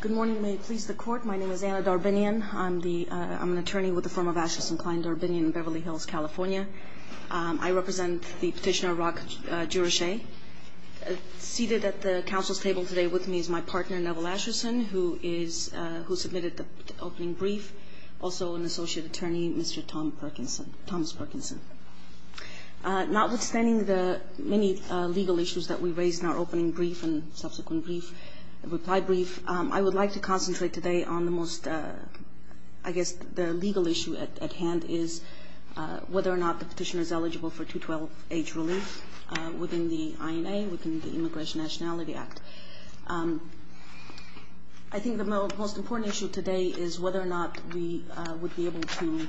Good morning. May it please the court. My name is Anna Darbinian. I'm an attorney with the firm of Asherson Klein Darbinian in Beverly Hills, California. I represent the petitioner, Rok Gjurashaj. Seated at the council's table today with me is my partner, Neville Asherson, who submitted the opening brief. Also an associate attorney, Mr. Thomas Perkinson. Notwithstanding the many legal issues that we raised in our opening brief and subsequent reply brief, I would like to concentrate today on the most, I guess, the legal issue at hand is whether or not the petitioner is eligible for 2-12 age relief within the INA, within the Immigration Nationality Act. I think the most important issue today is whether or not we would be able to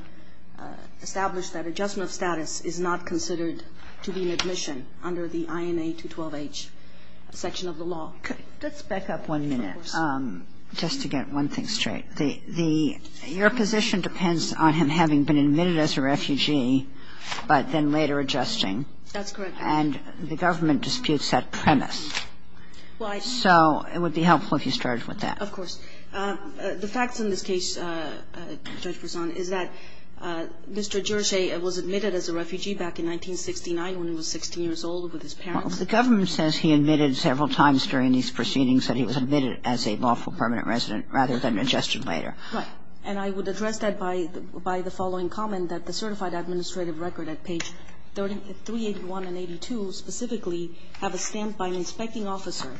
establish that adjustment of status is not considered to be an admission under the INA 2-12 age section of the law. Let's back up one minute just to get one thing straight. Your position depends on him having been admitted as a refugee but then later adjusting. That's correct. And the government disputes that premise. So it would be helpful if you started with that. Of course. The facts in this case, Judge Personne, is that Mr. Gjurashaj was admitted as a refugee back in 1969 when he was 16 years old with his parents. Well, the government says he admitted several times during these proceedings that he was admitted as a lawful permanent resident rather than adjusted later. Right. And I would address that by the following comment, that the certified administrative record at page 381 and 382 specifically have a stamp by an inspecting officer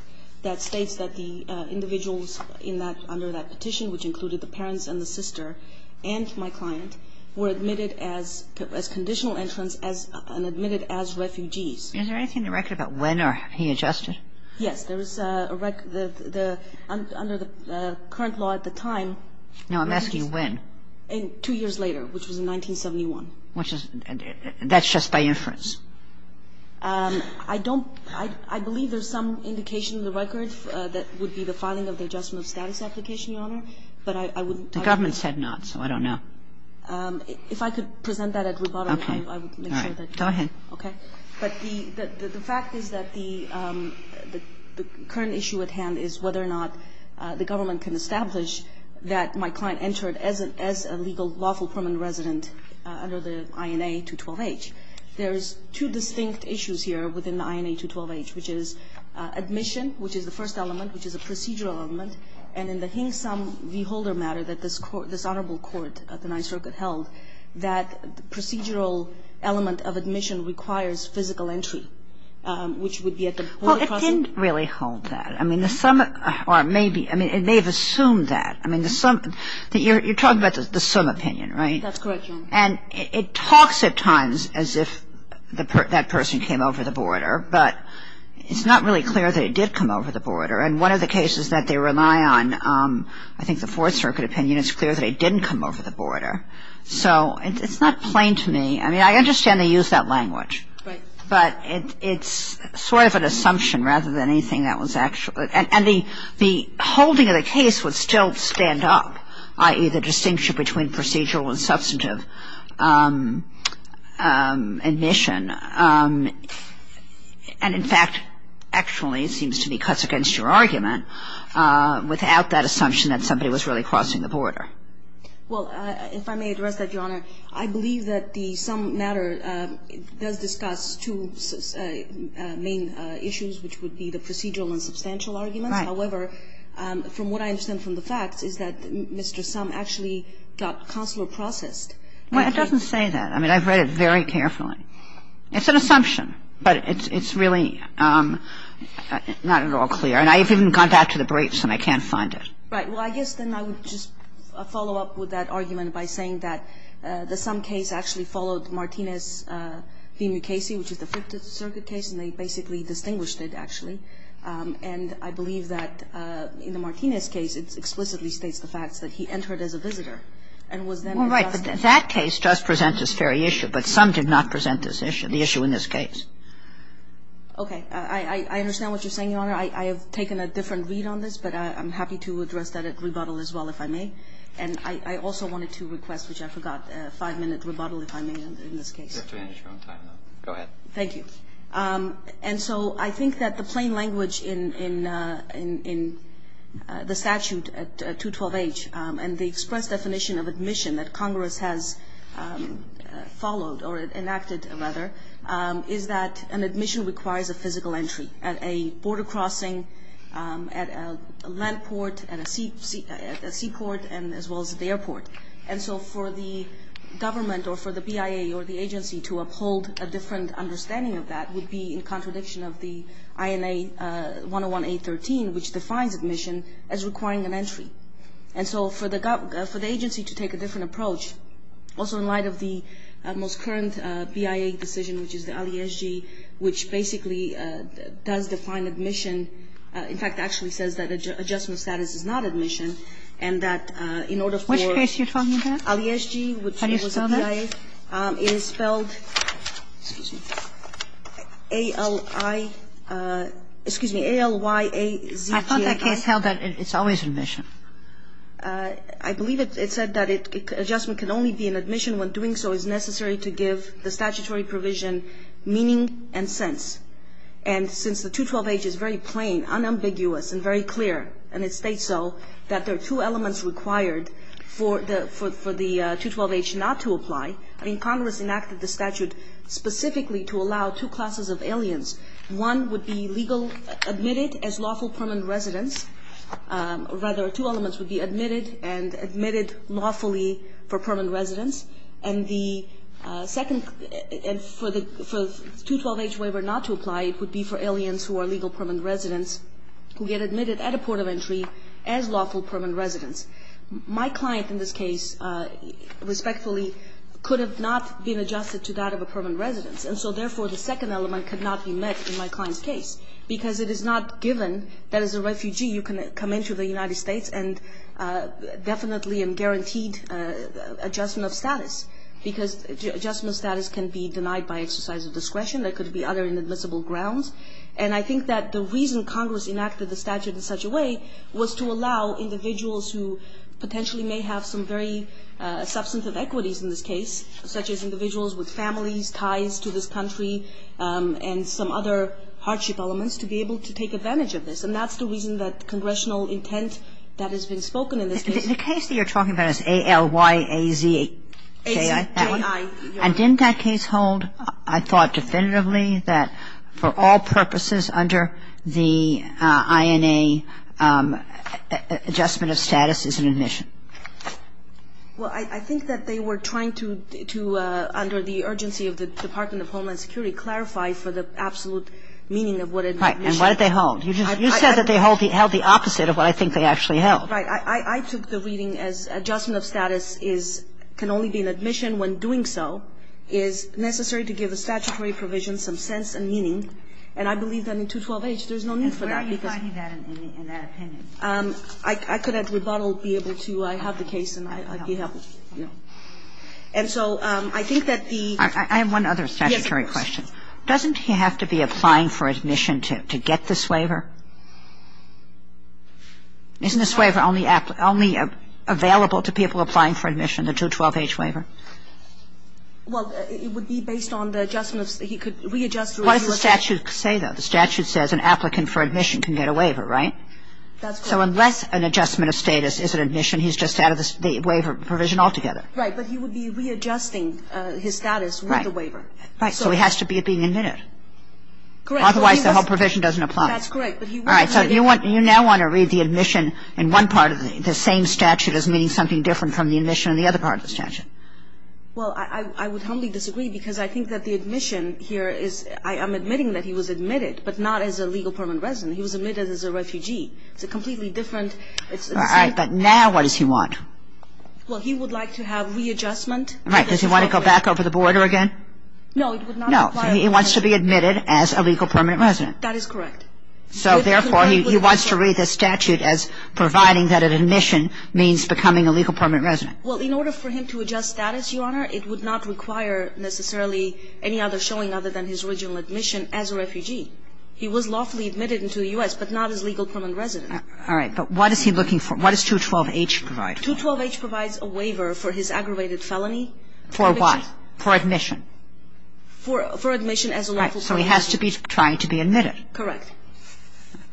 that states that the individuals in that under that petition, which included the parents and the sister and my client, were admitted as conditional entrants and admitted as refugees. Is there anything in the record about when he adjusted? Yes. There is a record under the current law at the time. Now, I'm asking when. Two years later, which was in 1971. Which is ñ that's just by inference. I don't ñ I believe there's some indication in the record that would be the filing of the adjustment of status application, Your Honor. But I wouldn't ñ The government said not, so I don't know. If I could present that at rebuttal, I would make sure that ñ Okay. All right. Go ahead. Okay. But the fact is that the current issue at hand is whether or not the government can establish that my client entered as a legal lawful permanent resident under the INA-212H. There's two distinct issues here within the INA-212H, which is admission, which is the first element, which is a procedural element, and in the Hingsom v. Holder matter that this honorable court of the Ninth Circuit held, that procedural element of admission requires physical entry, which would be at the point of process Well, it didn't really hold that. I mean, the sum ñ or maybe ñ I mean, it may have assumed that. I mean, the sum ñ you're talking about the sum opinion, right? That's correct, Your Honor. And it talks at times as if that person came over the border, but it's not really clear that it did come over the border. And one of the cases that they rely on, I think the Fourth Circuit opinion, it's clear that it didn't come over the border. So it's not plain to me. I mean, I understand they used that language. Right. But it's sort of an assumption rather than anything that was actually ñ and the holding of the case would still stand up, i.e., the distinction between procedural and substantive admission. And in fact, actually, it seems to be cuts against your argument without that assumption that somebody was really crossing the border. Well, if I may address that, Your Honor, I believe that the sum matter does discuss two main issues, which would be the procedural and substantial arguments. Right. However, from what I understand from the facts is that Mr. Sum actually got consular processed. Well, it doesn't say that. I mean, I've read it very carefully. It's an assumption, but it's really not at all clear. And I've even gone back to the briefs and I can't find it. Right. Well, I guess then I would just follow up with that argument by saying that the sum case actually followed Martinez v. Mukasey, which is the Fifth Circuit case, and they basically distinguished it, actually. And I believe that in the Martinez case it explicitly states the facts that he entered as a visitor and was then ñ Well, right. But that case just presents this very issue. But some did not present this issue, the issue in this case. Okay. I understand what you're saying, Your Honor. I have taken a different read on this, but I'm happy to address that at rebuttal as well if I may. And I also wanted to request, which I forgot, a five-minute rebuttal if I may in this case. You have to wait a short time, though. Go ahead. Thank you. And so I think that the plain language in the statute at 212H and the express definition of admission that Congress has followed or enacted, rather, is that an admission requires a physical entry at a border crossing, at a land port, at a sea port, and as well as at the airport. And so for the government or for the BIA or the agency to uphold a different understanding of that would be in contradiction of the INA 101A13, which defines admission as requiring an entry. And so for the agency to take a different approach, also in light of the most current BIA decision, which is the LESG, which basically does define admission, in fact, actually says that adjustment of status is not admission, and that in order for the LESG, which was a BIA, it is spelled, excuse me, A-L-I, excuse me, A-L-Y-A-Z-G-A-R. I thought that case held that it's always admission. I believe it said that adjustment can only be in admission when doing so is necessary to give the statutory provision meaning and sense. And since the 212H is very plain, unambiguous, and very clear, and it states so, that there are two elements required for the 212H not to apply. I mean, Congress enacted the statute specifically to allow two classes of aliens. One would be legally admitted as lawful permanent residents. Rather, two elements would be admitted and admitted lawfully for permanent residents. And the second, for the 212H waiver not to apply, it would be for aliens who are legal permanent residents who get admitted at a port of entry as lawful permanent residents. My client in this case, respectfully, could have not been adjusted to that of a permanent residence, and so, therefore, the second element could not be met in my client's case, because it is not given that as a refugee you can come into the United States and definitely and guaranteed adjustment of status, because adjustment of status can be denied by exercise of discretion. There could be other inadmissible grounds. And I think that the reason Congress enacted the statute in such a way was to allow individuals who potentially may have some very substantive equities in this case, such as individuals with families, ties to this country, and some other hardship elements to be able to take advantage of this. And that's the reason that congressional intent that has been spoken in this case. Kagan. The case that you're talking about is ALYAZJIA. And didn't that case hold, I thought definitively, that for all purposes under the INA, adjustment of status is an admission? Well, I think that they were trying to, under the urgency of the Department of Homeland Security, clarify for the absolute meaning of what an admission is. Right. And what did they hold? You said that they held the opposite of what I think they actually held. Right. I took the reading as adjustment of status is, can only be an admission when doing so, is necessary to give a statutory provision some sense and meaning. And I believe that in 212H there's no need for that because. And where are you finding that in that opinion? I could at rebuttal be able to. I have the case and I'd be happy. And so I think that the. I have one other statutory question. Yes, please. Doesn't he have to be applying for admission to get this waiver? Isn't this waiver only available to people applying for admission, the 212H waiver? Well, it would be based on the adjustment. He could readjust. What does the statute say, though? The statute says an applicant for admission can get a waiver, right? That's correct. So unless an adjustment of status is an admission, he's just out of the waiver provision altogether. But he would be readjusting his status with the waiver. Right. So he has to be being admitted. Correct. Otherwise the whole provision doesn't apply. That's correct. All right. So you now want to read the admission in one part of the same statute as meaning something different from the admission in the other part of the statute. Well, I would humbly disagree because I think that the admission here is I am admitting that he was admitted, but not as a legal permanent resident. He was admitted as a refugee. It's a completely different. All right. But now what does he want? Well, he would like to have readjustment. Right. Does he want to go back over the border again? No, it would not apply. No. He wants to be admitted as a legal permanent resident. That is correct. So therefore, he wants to read the statute as providing that an admission means becoming a legal permanent resident. Well, in order for him to adjust status, Your Honor, it would not require necessarily any other showing other than his original admission as a refugee. He was lawfully admitted into the U.S., but not as legal permanent resident. All right. But what is he looking for? What does 212H provide? 212H provides a waiver for his aggravated felony. For what? For admission. For admission as a lawful permanent resident. Right. So he has to be trying to be admitted. Correct.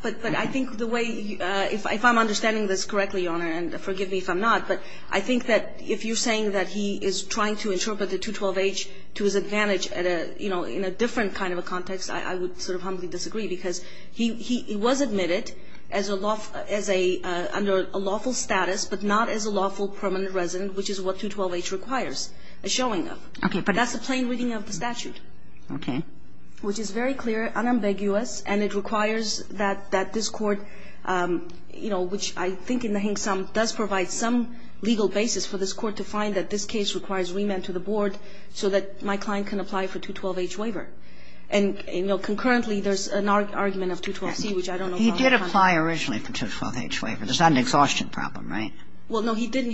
But I think the way, if I'm understanding this correctly, Your Honor, and forgive me if I'm not, but I think that if you're saying that he is trying to interpret the 212H to his advantage at a, you know, in a different kind of a context, I would sort of humbly disagree, because he was admitted as a lawful status, but not as a lawful permanent resident, which is what 212H requires a showing of. Okay. That's the plain reading of the statute. Okay. Which is very clear, unambiguous, and it requires that this Court, you know, which I think in the Hingsum does provide some legal basis for this Court to find that this case requires remand to the board so that my client can apply for 212H waiver. And, you know, concurrently, there's an argument of 212C, which I don't know about. He did apply originally for 212H waiver. That's not an exhaustion problem, right? Well, no, he didn't.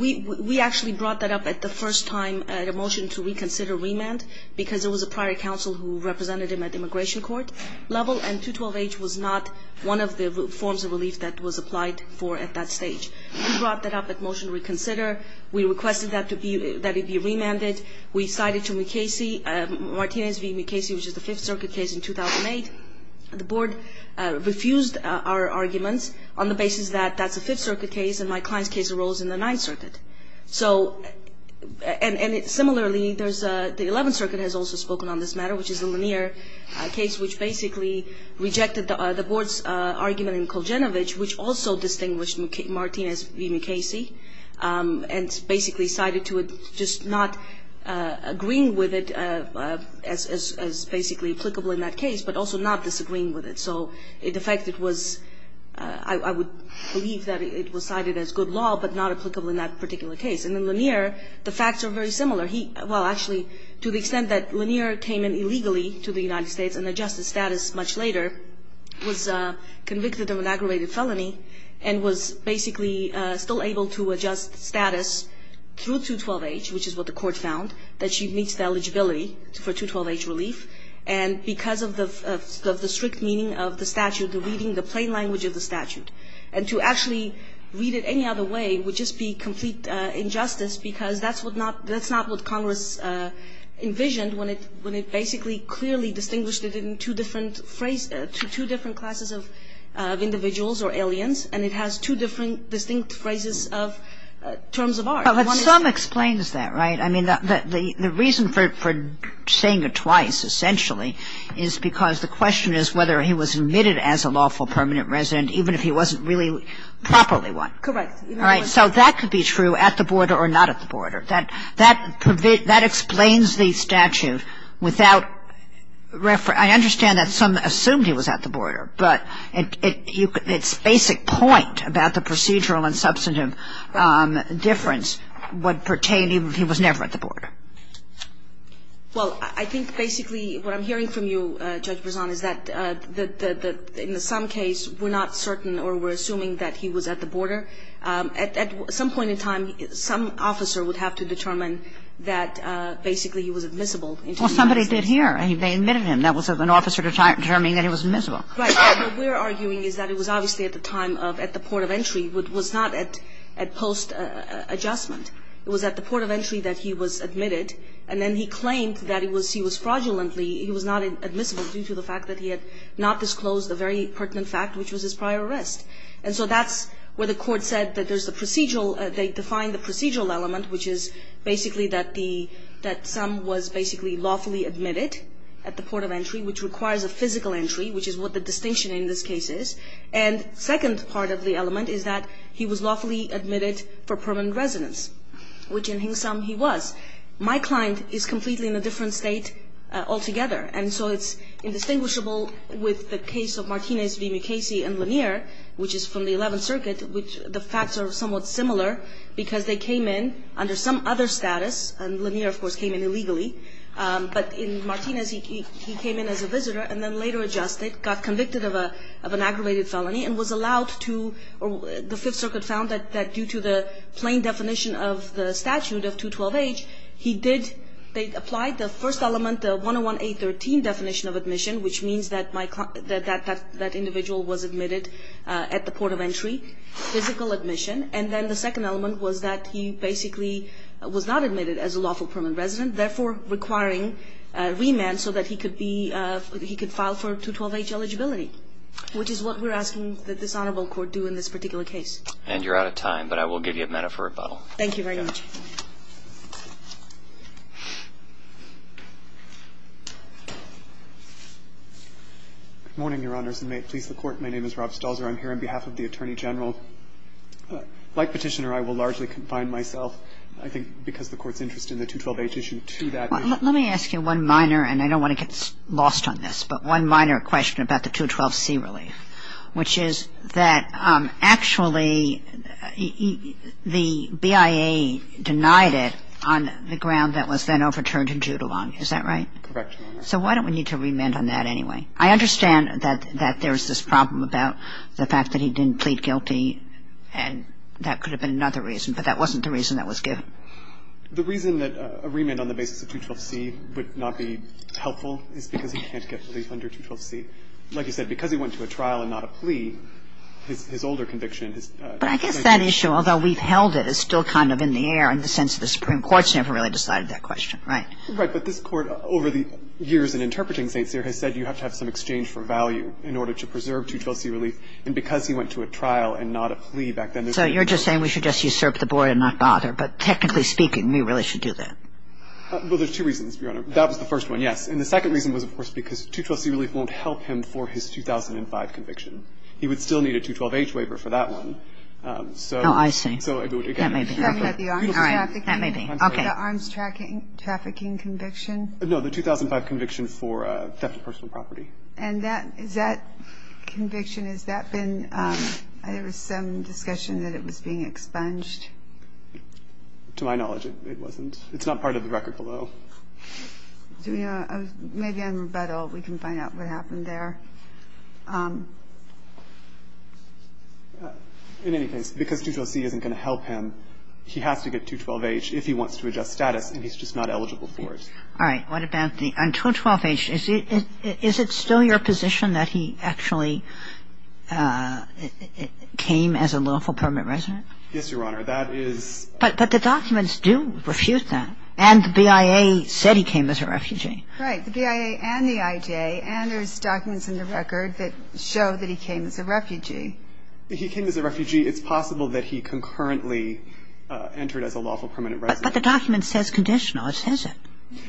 We actually brought that up at the first time at a motion to reconsider remand, because it was a prior counsel who represented him at immigration court level, and 212H was not one of the forms of relief that was applied for at that stage. We brought that up at motion to reconsider. We requested that it be remanded. We cited to Mukasey, Martinez v. Mukasey, which is the Fifth Circuit case in 2008. The board refused our arguments on the basis that that's a Fifth Circuit case, and my client's case arose in the Ninth Circuit. And similarly, the Eleventh Circuit has also spoken on this matter, which is the Lanier case, which basically rejected the board's argument in Koljanovich, which also distinguished Martinez v. Mukasey, and basically cited to it just not agreeing with it as basically applicable in that case, but also not disagreeing with it. So the fact that it was, I would believe that it was cited as good law, but not applicable in that particular case. And in Lanier, the facts are very similar. Well, actually, to the extent that Lanier came in illegally to the United States and adjusted status much later, was convicted of an aggravated felony, and was basically still able to adjust status through 212H, which is what the court found, that she meets the eligibility for 212H relief. And because of the strict meaning of the statute, the reading, the plain language of the statute. And to actually read it any other way would just be complete injustice, because that's not what Congress envisioned when it basically clearly distinguished it in two different classes of individuals or aliens, and it has two different distinct phrases of terms of art. But some explains that, right? I mean, the reason for saying it twice, essentially, is because the question is whether he was admitted as a lawful permanent resident even if he wasn't really properly one. Correct. All right. So that could be true at the border or not at the border. That explains the statute without reference. I understand that some assumed he was at the border, but its basic point about the procedural and substantive difference would pertain even if he was never at the border. Well, I think basically what I'm hearing from you, Judge Brezon, is that in some case we're not certain or we're assuming that he was at the border. At some point in time, some officer would have to determine that basically he was admissible. Well, somebody did here. They admitted him. That was an officer determining that he was admissible. Right. What we're arguing is that it was obviously at the time of, at the port of entry. It was not at post-adjustment. It was at the port of entry that he was admitted, and then he claimed that he was fraudulently, he was not admissible due to the fact that he had not disclosed a very pertinent fact, which was his prior arrest. And so that's where the Court said that there's the procedural, they defined the procedural element, which is basically that the, that some was basically lawfully admitted at the port of entry, which requires a physical entry, which is what the distinction in this case is. And second part of the element is that he was lawfully admitted for permanent residence, which in Hingsam he was. My client is completely in a different state altogether, and so it's indistinguishable with the case of Martinez v. Mukasey and Lanier, which is from the 11th Circuit, which the facts are somewhat similar, because they came in under some other status, and Lanier, of course, came in illegally. But in Martinez, he came in as a visitor and then later adjusted, got convicted of an aggravated felony and was allowed to, the Fifth Circuit found that due to the plain definition of the statute of 212H, he did, they applied the first element, the 101-813 definition of admission, which means that my client, that individual was admitted at the port of entry, physical admission. And then the second element was that he basically was not admitted as a lawful permanent resident, therefore requiring remand so that he could be, he could file for 212H eligibility, which is what we're asking that this honorable court do in this particular case. And you're out of time, but I will give you a minute for rebuttal. Thank you very much. Good morning, Your Honors, and may it please the Court. My name is Rob Stalzer. I'm here on behalf of the Attorney General. Like Petitioner, I will largely confine myself, I think, because the Court's interest in the 212H issue to that issue. Let me ask you one minor, and I don't want to get lost on this, but one minor question about the 212C relief, which is that actually the BIA denied it on the ground that was then overturned in Judulon. Is that right? Correct, Your Honor. So why don't we need to remand on that anyway? I understand that there's this problem about the fact that he didn't plead guilty and that could have been another reason, but that wasn't the reason that was given. The reason that a remand on the basis of 212C would not be helpful is because he can't get relief under 212C. Like you said, because he went to a trial and not a plea, his older conviction is — But I guess that issue, although we've held it, is still kind of in the air in the sense that the Supreme Court's never really decided that question, right? Right. But this Court, over the years in interpreting St. Cyr, has said you have to have some exchange for value in order to preserve 212C relief. And because he went to a trial and not a plea back then — So you're just saying we should just usurp the board and not bother. But technically speaking, we really should do that. Well, there's two reasons, Your Honor. That was the first one, yes. And the second reason was, of course, because 212C relief won't help him for his 2005 conviction. He would still need a 212H waiver for that one. So — Oh, I see. That may be. All right. That may be. Okay. The arms trafficking conviction? No, the 2005 conviction for theft of personal property. And that — is that conviction, has that been — there was some discussion that it was being expunged? To my knowledge, it wasn't. It's not part of the record below. Do we know? Maybe on rebuttal we can find out what happened there. In any case, because 212C isn't going to help him, he has to get 212H if he wants All right. What about the — on 212H, is it still your position that he actually came as a lawful permanent resident? Yes, Your Honor. That is — But the documents do refute that. And the BIA said he came as a refugee. Right. The BIA and the IJ, and there's documents in the record that show that he came as a refugee. He came as a refugee. It's possible that he concurrently entered as a lawful permanent resident. But the document says conditional. It says it.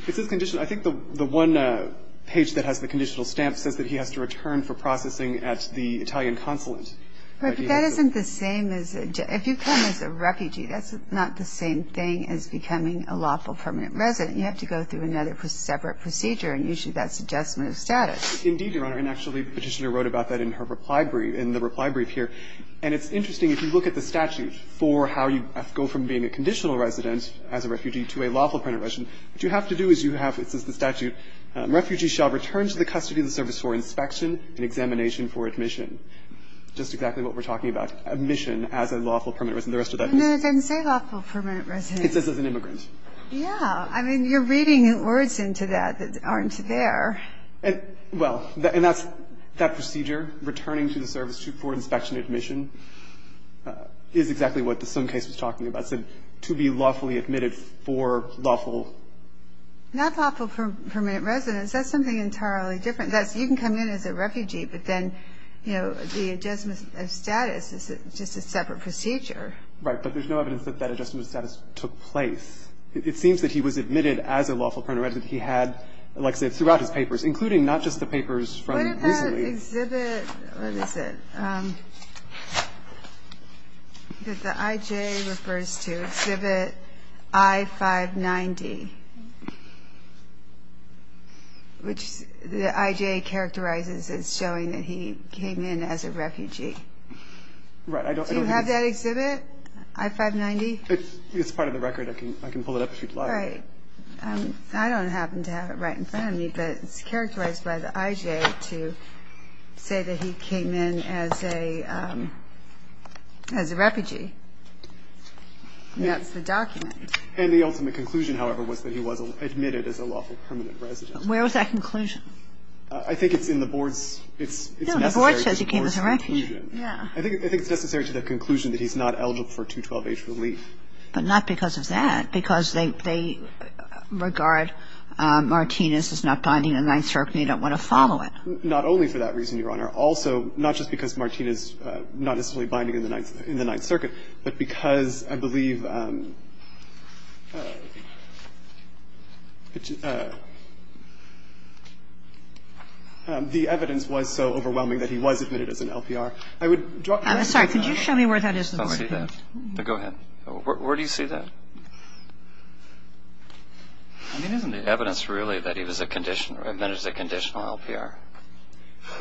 It says conditional. I think the one page that has the conditional stamp says that he has to return for processing at the Italian consulate. Right. But that isn't the same as — if you come as a refugee, that's not the same thing as becoming a lawful permanent resident. You have to go through another separate procedure, and usually that's adjustment of status. Indeed, Your Honor. And actually the Petitioner wrote about that in her reply brief — in the reply brief here. And it's interesting. If you look at the statute for how you go from being a conditional resident as a refugee to a lawful permanent resident, what you have to do is you have — it says in the statute, Refugee shall return to the custody of the service for inspection and examination for admission. Just exactly what we're talking about. Admission as a lawful permanent resident. The rest of that is — No, it doesn't say lawful permanent resident. It says as an immigrant. Yeah. I mean, you're reading words into that that aren't there. Well, and that's — that procedure, returning to the service for inspection and admission, is exactly what the sum case was talking about. It said to be lawfully admitted for lawful — Not lawful permanent resident. That's something entirely different. That's — you can come in as a refugee, but then, you know, the adjustment of status is just a separate procedure. Right. But there's no evidence that that adjustment of status took place. It seems that he was admitted as a lawful permanent resident. He had, like I said, throughout his papers, including not just the papers from recently. The exhibit — what is it? The IJ refers to exhibit I-590, which the IJ characterizes as showing that he came in as a refugee. Right. Do you have that exhibit, I-590? It's part of the record. I can pull it up if you'd like. Right. I don't happen to have it right in front of me, but it's characterized by the IJ to say that he came in as a — as a refugee. That's the document. And the ultimate conclusion, however, was that he was admitted as a lawful permanent resident. Where was that conclusion? I think it's in the board's — it's necessary to the board's conclusion. No, the board says he came as a refugee. Yeah. I think it's necessary to the conclusion that he's not eligible for 212-H relief. But not because of that. Because they regard Martinez as not binding in the Ninth Circuit and you don't want to follow it. Not only for that reason, Your Honor. Also, not just because Martinez is not necessarily binding in the Ninth Circuit, but because I believe the evidence was so overwhelming that he was admitted as an LPR. I would — I'm sorry. Could you show me where that is? Go ahead. Where do you see that? I mean, isn't the evidence really that he was a — admitted as a conditional LPR?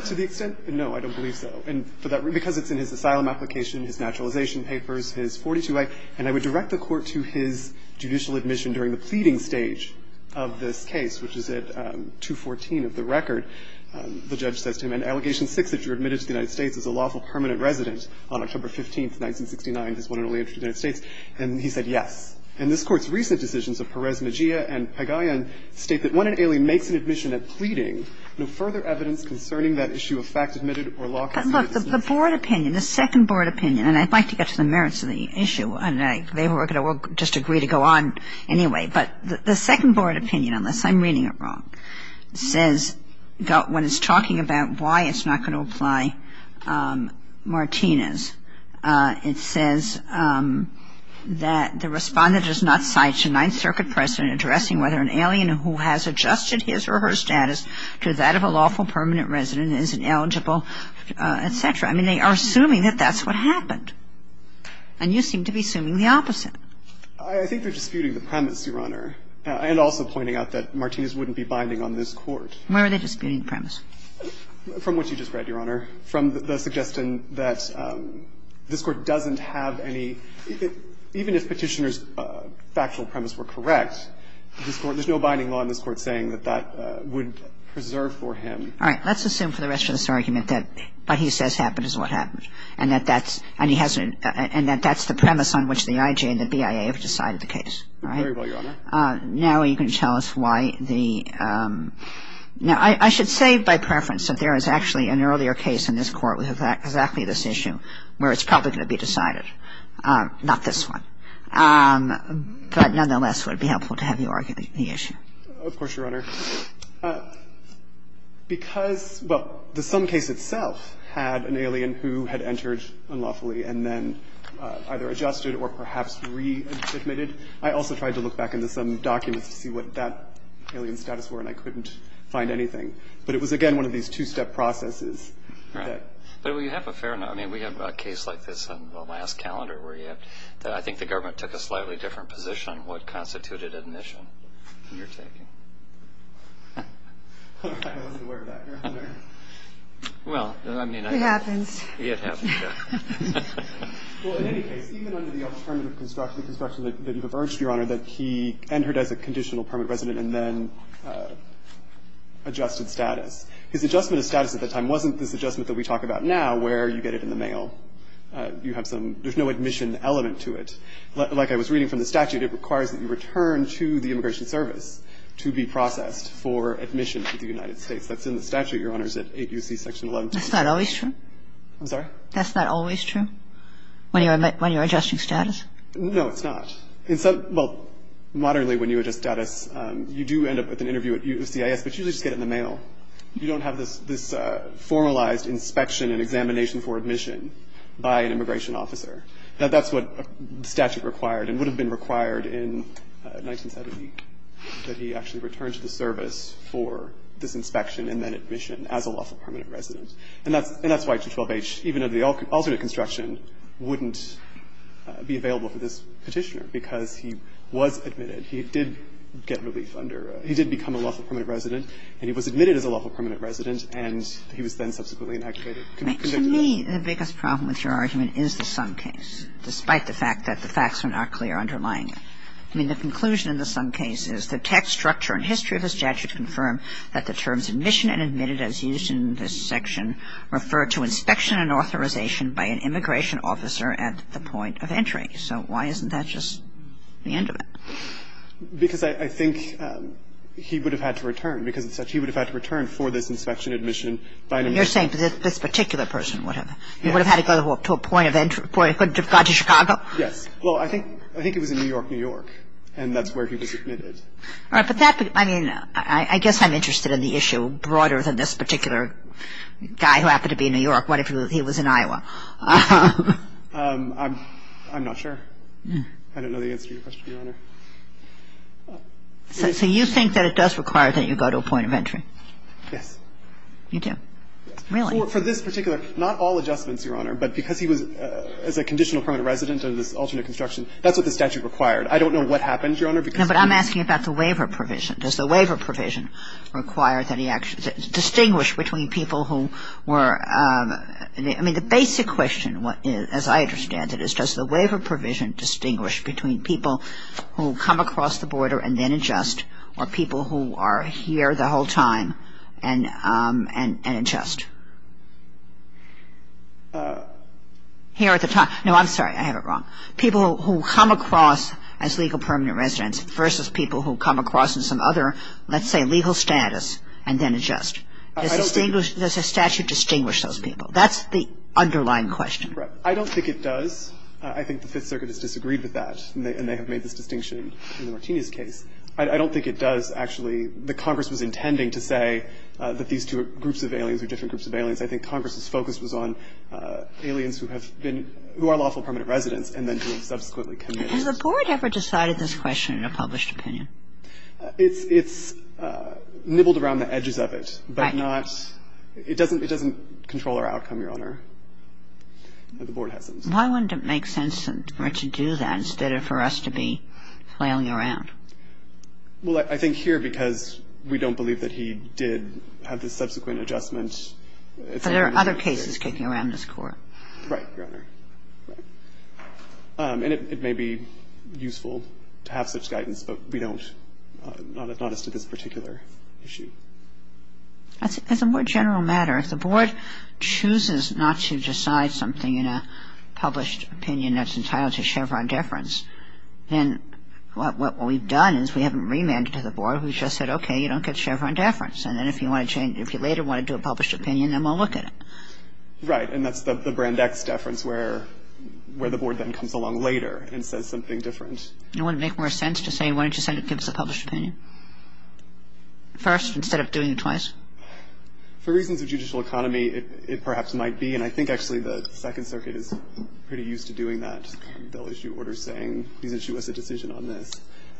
To the extent — no, I don't believe so. And for that — because it's in his asylum application, his naturalization papers, his 42A. And I would direct the Court to his judicial admission during the pleading stage of this case, which is at 214 of the record. The judge says to him, in Allegation 6, that you're admitted to the United States as a lawful permanent resident on October 15th, 1969. Is that correct? And he says, yes. And he says, yes. And this Court's recent decisions of Perez, Mejia, and Pagayan state that when an alien makes an admission at pleading, no further evidence concerning that issue of fact admitted or lawful permanent residence. But look, the Board opinion, the second Board opinion, and I'd like to get to the merits of the issue. I don't know. They were going to just agree to go on anyway. But the second Board opinion, unless I'm reading it wrong, says — when it's talking about why it's not going to apply Martinez, it says that the Respondent does not cite the Ninth Circuit precedent addressing whether an alien who has adjusted his or her status to that of a lawful permanent resident is eligible, et cetera. I mean, they are assuming that that's what happened. And you seem to be assuming the opposite. I think they're disputing the premise, Your Honor, and also pointing out that Martinez wouldn't be binding on this Court. Where are they disputing the premise? From what you just read, Your Honor, from the suggestion that this Court doesn't have any — even if Petitioner's factual premise were correct, this Court — there's no binding law in this Court saying that that would preserve for him. All right. Let's assume for the rest of this argument that what he says happened is what happened and that that's — and he hasn't — and that that's the premise on which the IJ and the BIA have decided the case. Very well, Your Honor. Now you can tell us why the — now, I should say by preference that there is actually an earlier case in this Court with exactly this issue where it's probably going to be decided, not this one. But nonetheless, it would be helpful to have you argue the issue. Of course, Your Honor. Because — well, the sum case itself had an alien who had entered unlawfully and then either adjusted or perhaps readmitted. I also tried to look back into some documents to see what that alien status were and I couldn't find anything. But it was, again, one of these two-step processes. Right. But we have a fair amount — I mean, we have a case like this on the last calendar where you have — that I think the government took a slightly different position on what constituted admission in your taking. I wasn't aware of that, Your Honor. Well, I mean, I — It happens. It happens, yeah. Well, in any case, even under the alternative construction, the construction that you have urged, Your Honor, that he entered as a conditional permit resident and then adjusted status. His adjustment of status at the time wasn't this adjustment that we talk about now where you get it in the mail. You have some — there's no admission element to it. Like I was reading from the statute, it requires that you return to the Immigration Service to be processed for admission to the United States. That's in the statute, Your Honors, at 8 U.C. Section 11. That's not always true. I'm sorry? That's not always true when you're adjusting status? No, it's not. In some — well, moderately when you adjust status, you do end up with an interview at USCIS, but you usually just get it in the mail. You don't have this formalized inspection and examination for admission by an immigration officer. That's what the statute required and would have been required in 1970, that he actually return to the service for this inspection and then admission as a lawful permanent resident. And that's why 212H, even under the alternate construction, wouldn't be available for this Petitioner, because he was admitted. He did get relief under — he did become a lawful permanent resident, and he was admitted as a lawful permanent resident, and he was then subsequently inactivated. To me, the biggest problem with your argument is the Sum case, despite the fact that the facts are not clear underlying it. I mean, the conclusion in the Sum case is the text, structure, and history of this section refer to inspection and authorization by an immigration officer at the point of entry. So why isn't that just the end of it? Because I think he would have had to return, because he would have had to return for this inspection and admission by an immigration officer. And you're saying this particular person would have had to go to a point of entry before he could have gone to Chicago? Yes. Well, I think it was in New York, New York, and that's where he was admitted. All right. But that — I mean, I guess I'm interested in the issue broader than this particular guy who happened to be in New York. What if he was in Iowa? I'm not sure. I don't know the answer to your question, Your Honor. So you think that it does require that you go to a point of entry? Yes. You do? Yes. Really? Well, for this particular — not all adjustments, Your Honor, but because he was a conditional permanent resident under this alternate construction, that's what the statute I don't know what happened, Your Honor, because he — No, but I'm asking about the waiver provision. Does the waiver provision require that he actually — distinguish between people who were — I mean, the basic question, as I understand it, is does the waiver provision distinguish between people who come across the border and then adjust or people who are here the whole time and adjust? Here at the time — no, I'm sorry. I have it wrong. People who come across as legal permanent residents versus people who come across in some other, let's say, legal status and then adjust. I don't think — Does the statute distinguish those people? That's the underlying question. I don't think it does. I think the Fifth Circuit has disagreed with that, and they have made this distinction in the Martinez case. I don't think it does, actually. The Congress was intending to say that these two groups of aliens are different groups of aliens. I think Congress's focus was on aliens who have been — who are lawful permanent residents and then who have subsequently committed. Has the Board ever decided this question in a published opinion? It's nibbled around the edges of it, but not — Right. It doesn't control our outcome, Your Honor. The Board hasn't. Why wouldn't it make sense for it to do that instead of for us to be flailing around? Well, I think here, because we don't believe that he did have the subsequent adjustment — But there are other cases kicking around this Court. Right, Your Honor. Right. And it may be useful to have such guidance, but we don't, not as to this particular issue. As a more general matter, if the Board chooses not to decide something in a published opinion that's entitled to Chevron deference, then what we've done is we haven't remanded to the Board. We've just said, okay, you don't get Chevron deference. And then if you want to change — if you later want to do a published opinion, then we'll look at it. Right. And that's the Brand X deference, where the Board then comes along later and says something different. Wouldn't it make more sense to say, why don't you send it to us a published opinion first instead of doing it twice? For reasons of judicial economy, it perhaps might be. And I think, actually, the Second Circuit is pretty used to doing that. They'll issue orders saying, please issue us a decision on this.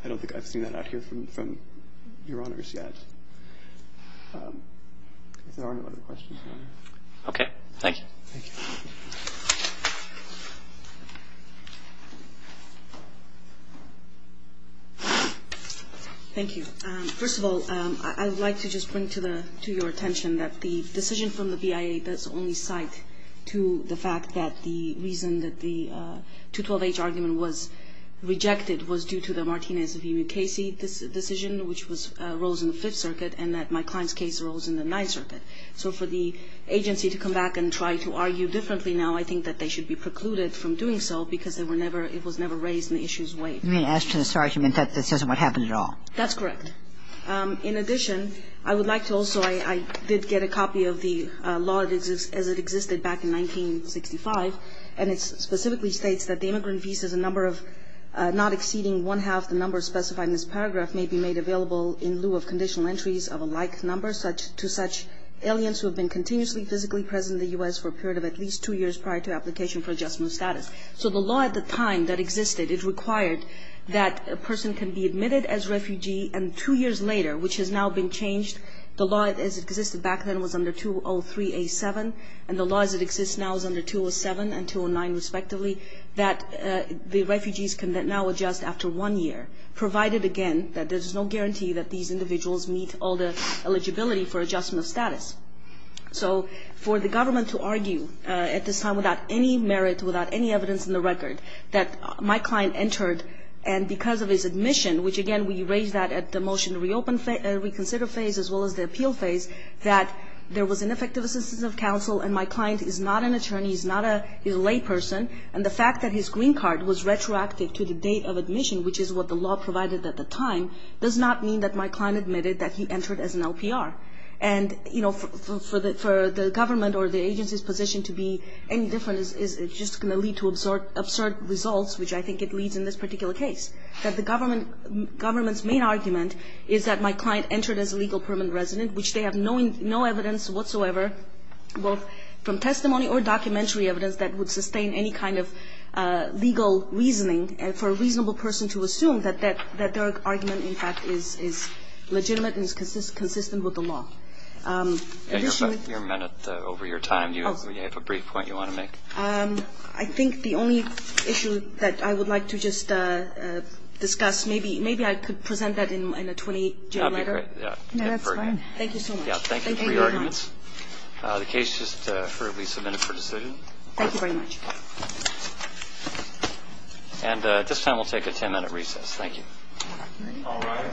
I don't think I've seen that out here from Your Honors yet. Is there any other questions? Okay. Thank you. Thank you. Thank you. First of all, I would like to just bring to your attention that the decision from the BIA does only cite to the fact that the reason that the 212H argument was rejected was due to the Martinez v. Mukasey decision, which was — arose in the Fifth Circuit, and that my client's case arose in the Ninth Circuit. So for the agency to come back and try to argue differently now, I think that they should be precluded from doing so because they were never — it was never raised in the issues way. You mean, as to this argument, that this isn't what happened at all? That's correct. In addition, I would like to also — I did get a copy of the law as it existed back in 1965, and it specifically states that the immigrant visa is a number of people not exceeding one-half the number specified in this paragraph may be made available in lieu of conditional entries of a like number to such aliens who have been continuously physically present in the U.S. for a period of at least two years prior to application for adjustment of status. So the law at the time that existed, it required that a person can be admitted as refugee, and two years later, which has now been changed, the law as it existed back then was under 203A7, and the law as it exists now is under 207 and 209 respectively, that the refugees can now adjust after one year, provided, again, that there's no guarantee that these individuals meet all the eligibility for adjustment of status. So for the government to argue at this time without any merit, without any evidence in the record, that my client entered, and because of his admission, which, again, we raised that at the motion to reopen — reconsider phase as well as the appeal phase, that there was an effective assistance of counsel and my green card was retroactive to the date of admission, which is what the law provided at the time, does not mean that my client admitted that he entered as an LPR. And, you know, for the government or the agency's position to be any different is just going to lead to absurd results, which I think it leads in this particular case, that the government's main argument is that my client entered as a legal permanent resident, which they have no evidence whatsoever, both from testimony or documentary evidence that would sustain any kind of legal reasoning for a reasonable person to assume that their argument, in fact, is legitimate and is consistent with the law. Additionally — Your minute over your time. Do you have a brief point you want to make? I think the only issue that I would like to just discuss — maybe I could present that in a 20-day letter. That would be great. That's fine. Thank you so much. Thank you for your arguments. The case is just furtively submitted for decision. Thank you very much. And at this time, we'll take a 10-minute recess. Thank you. All rise.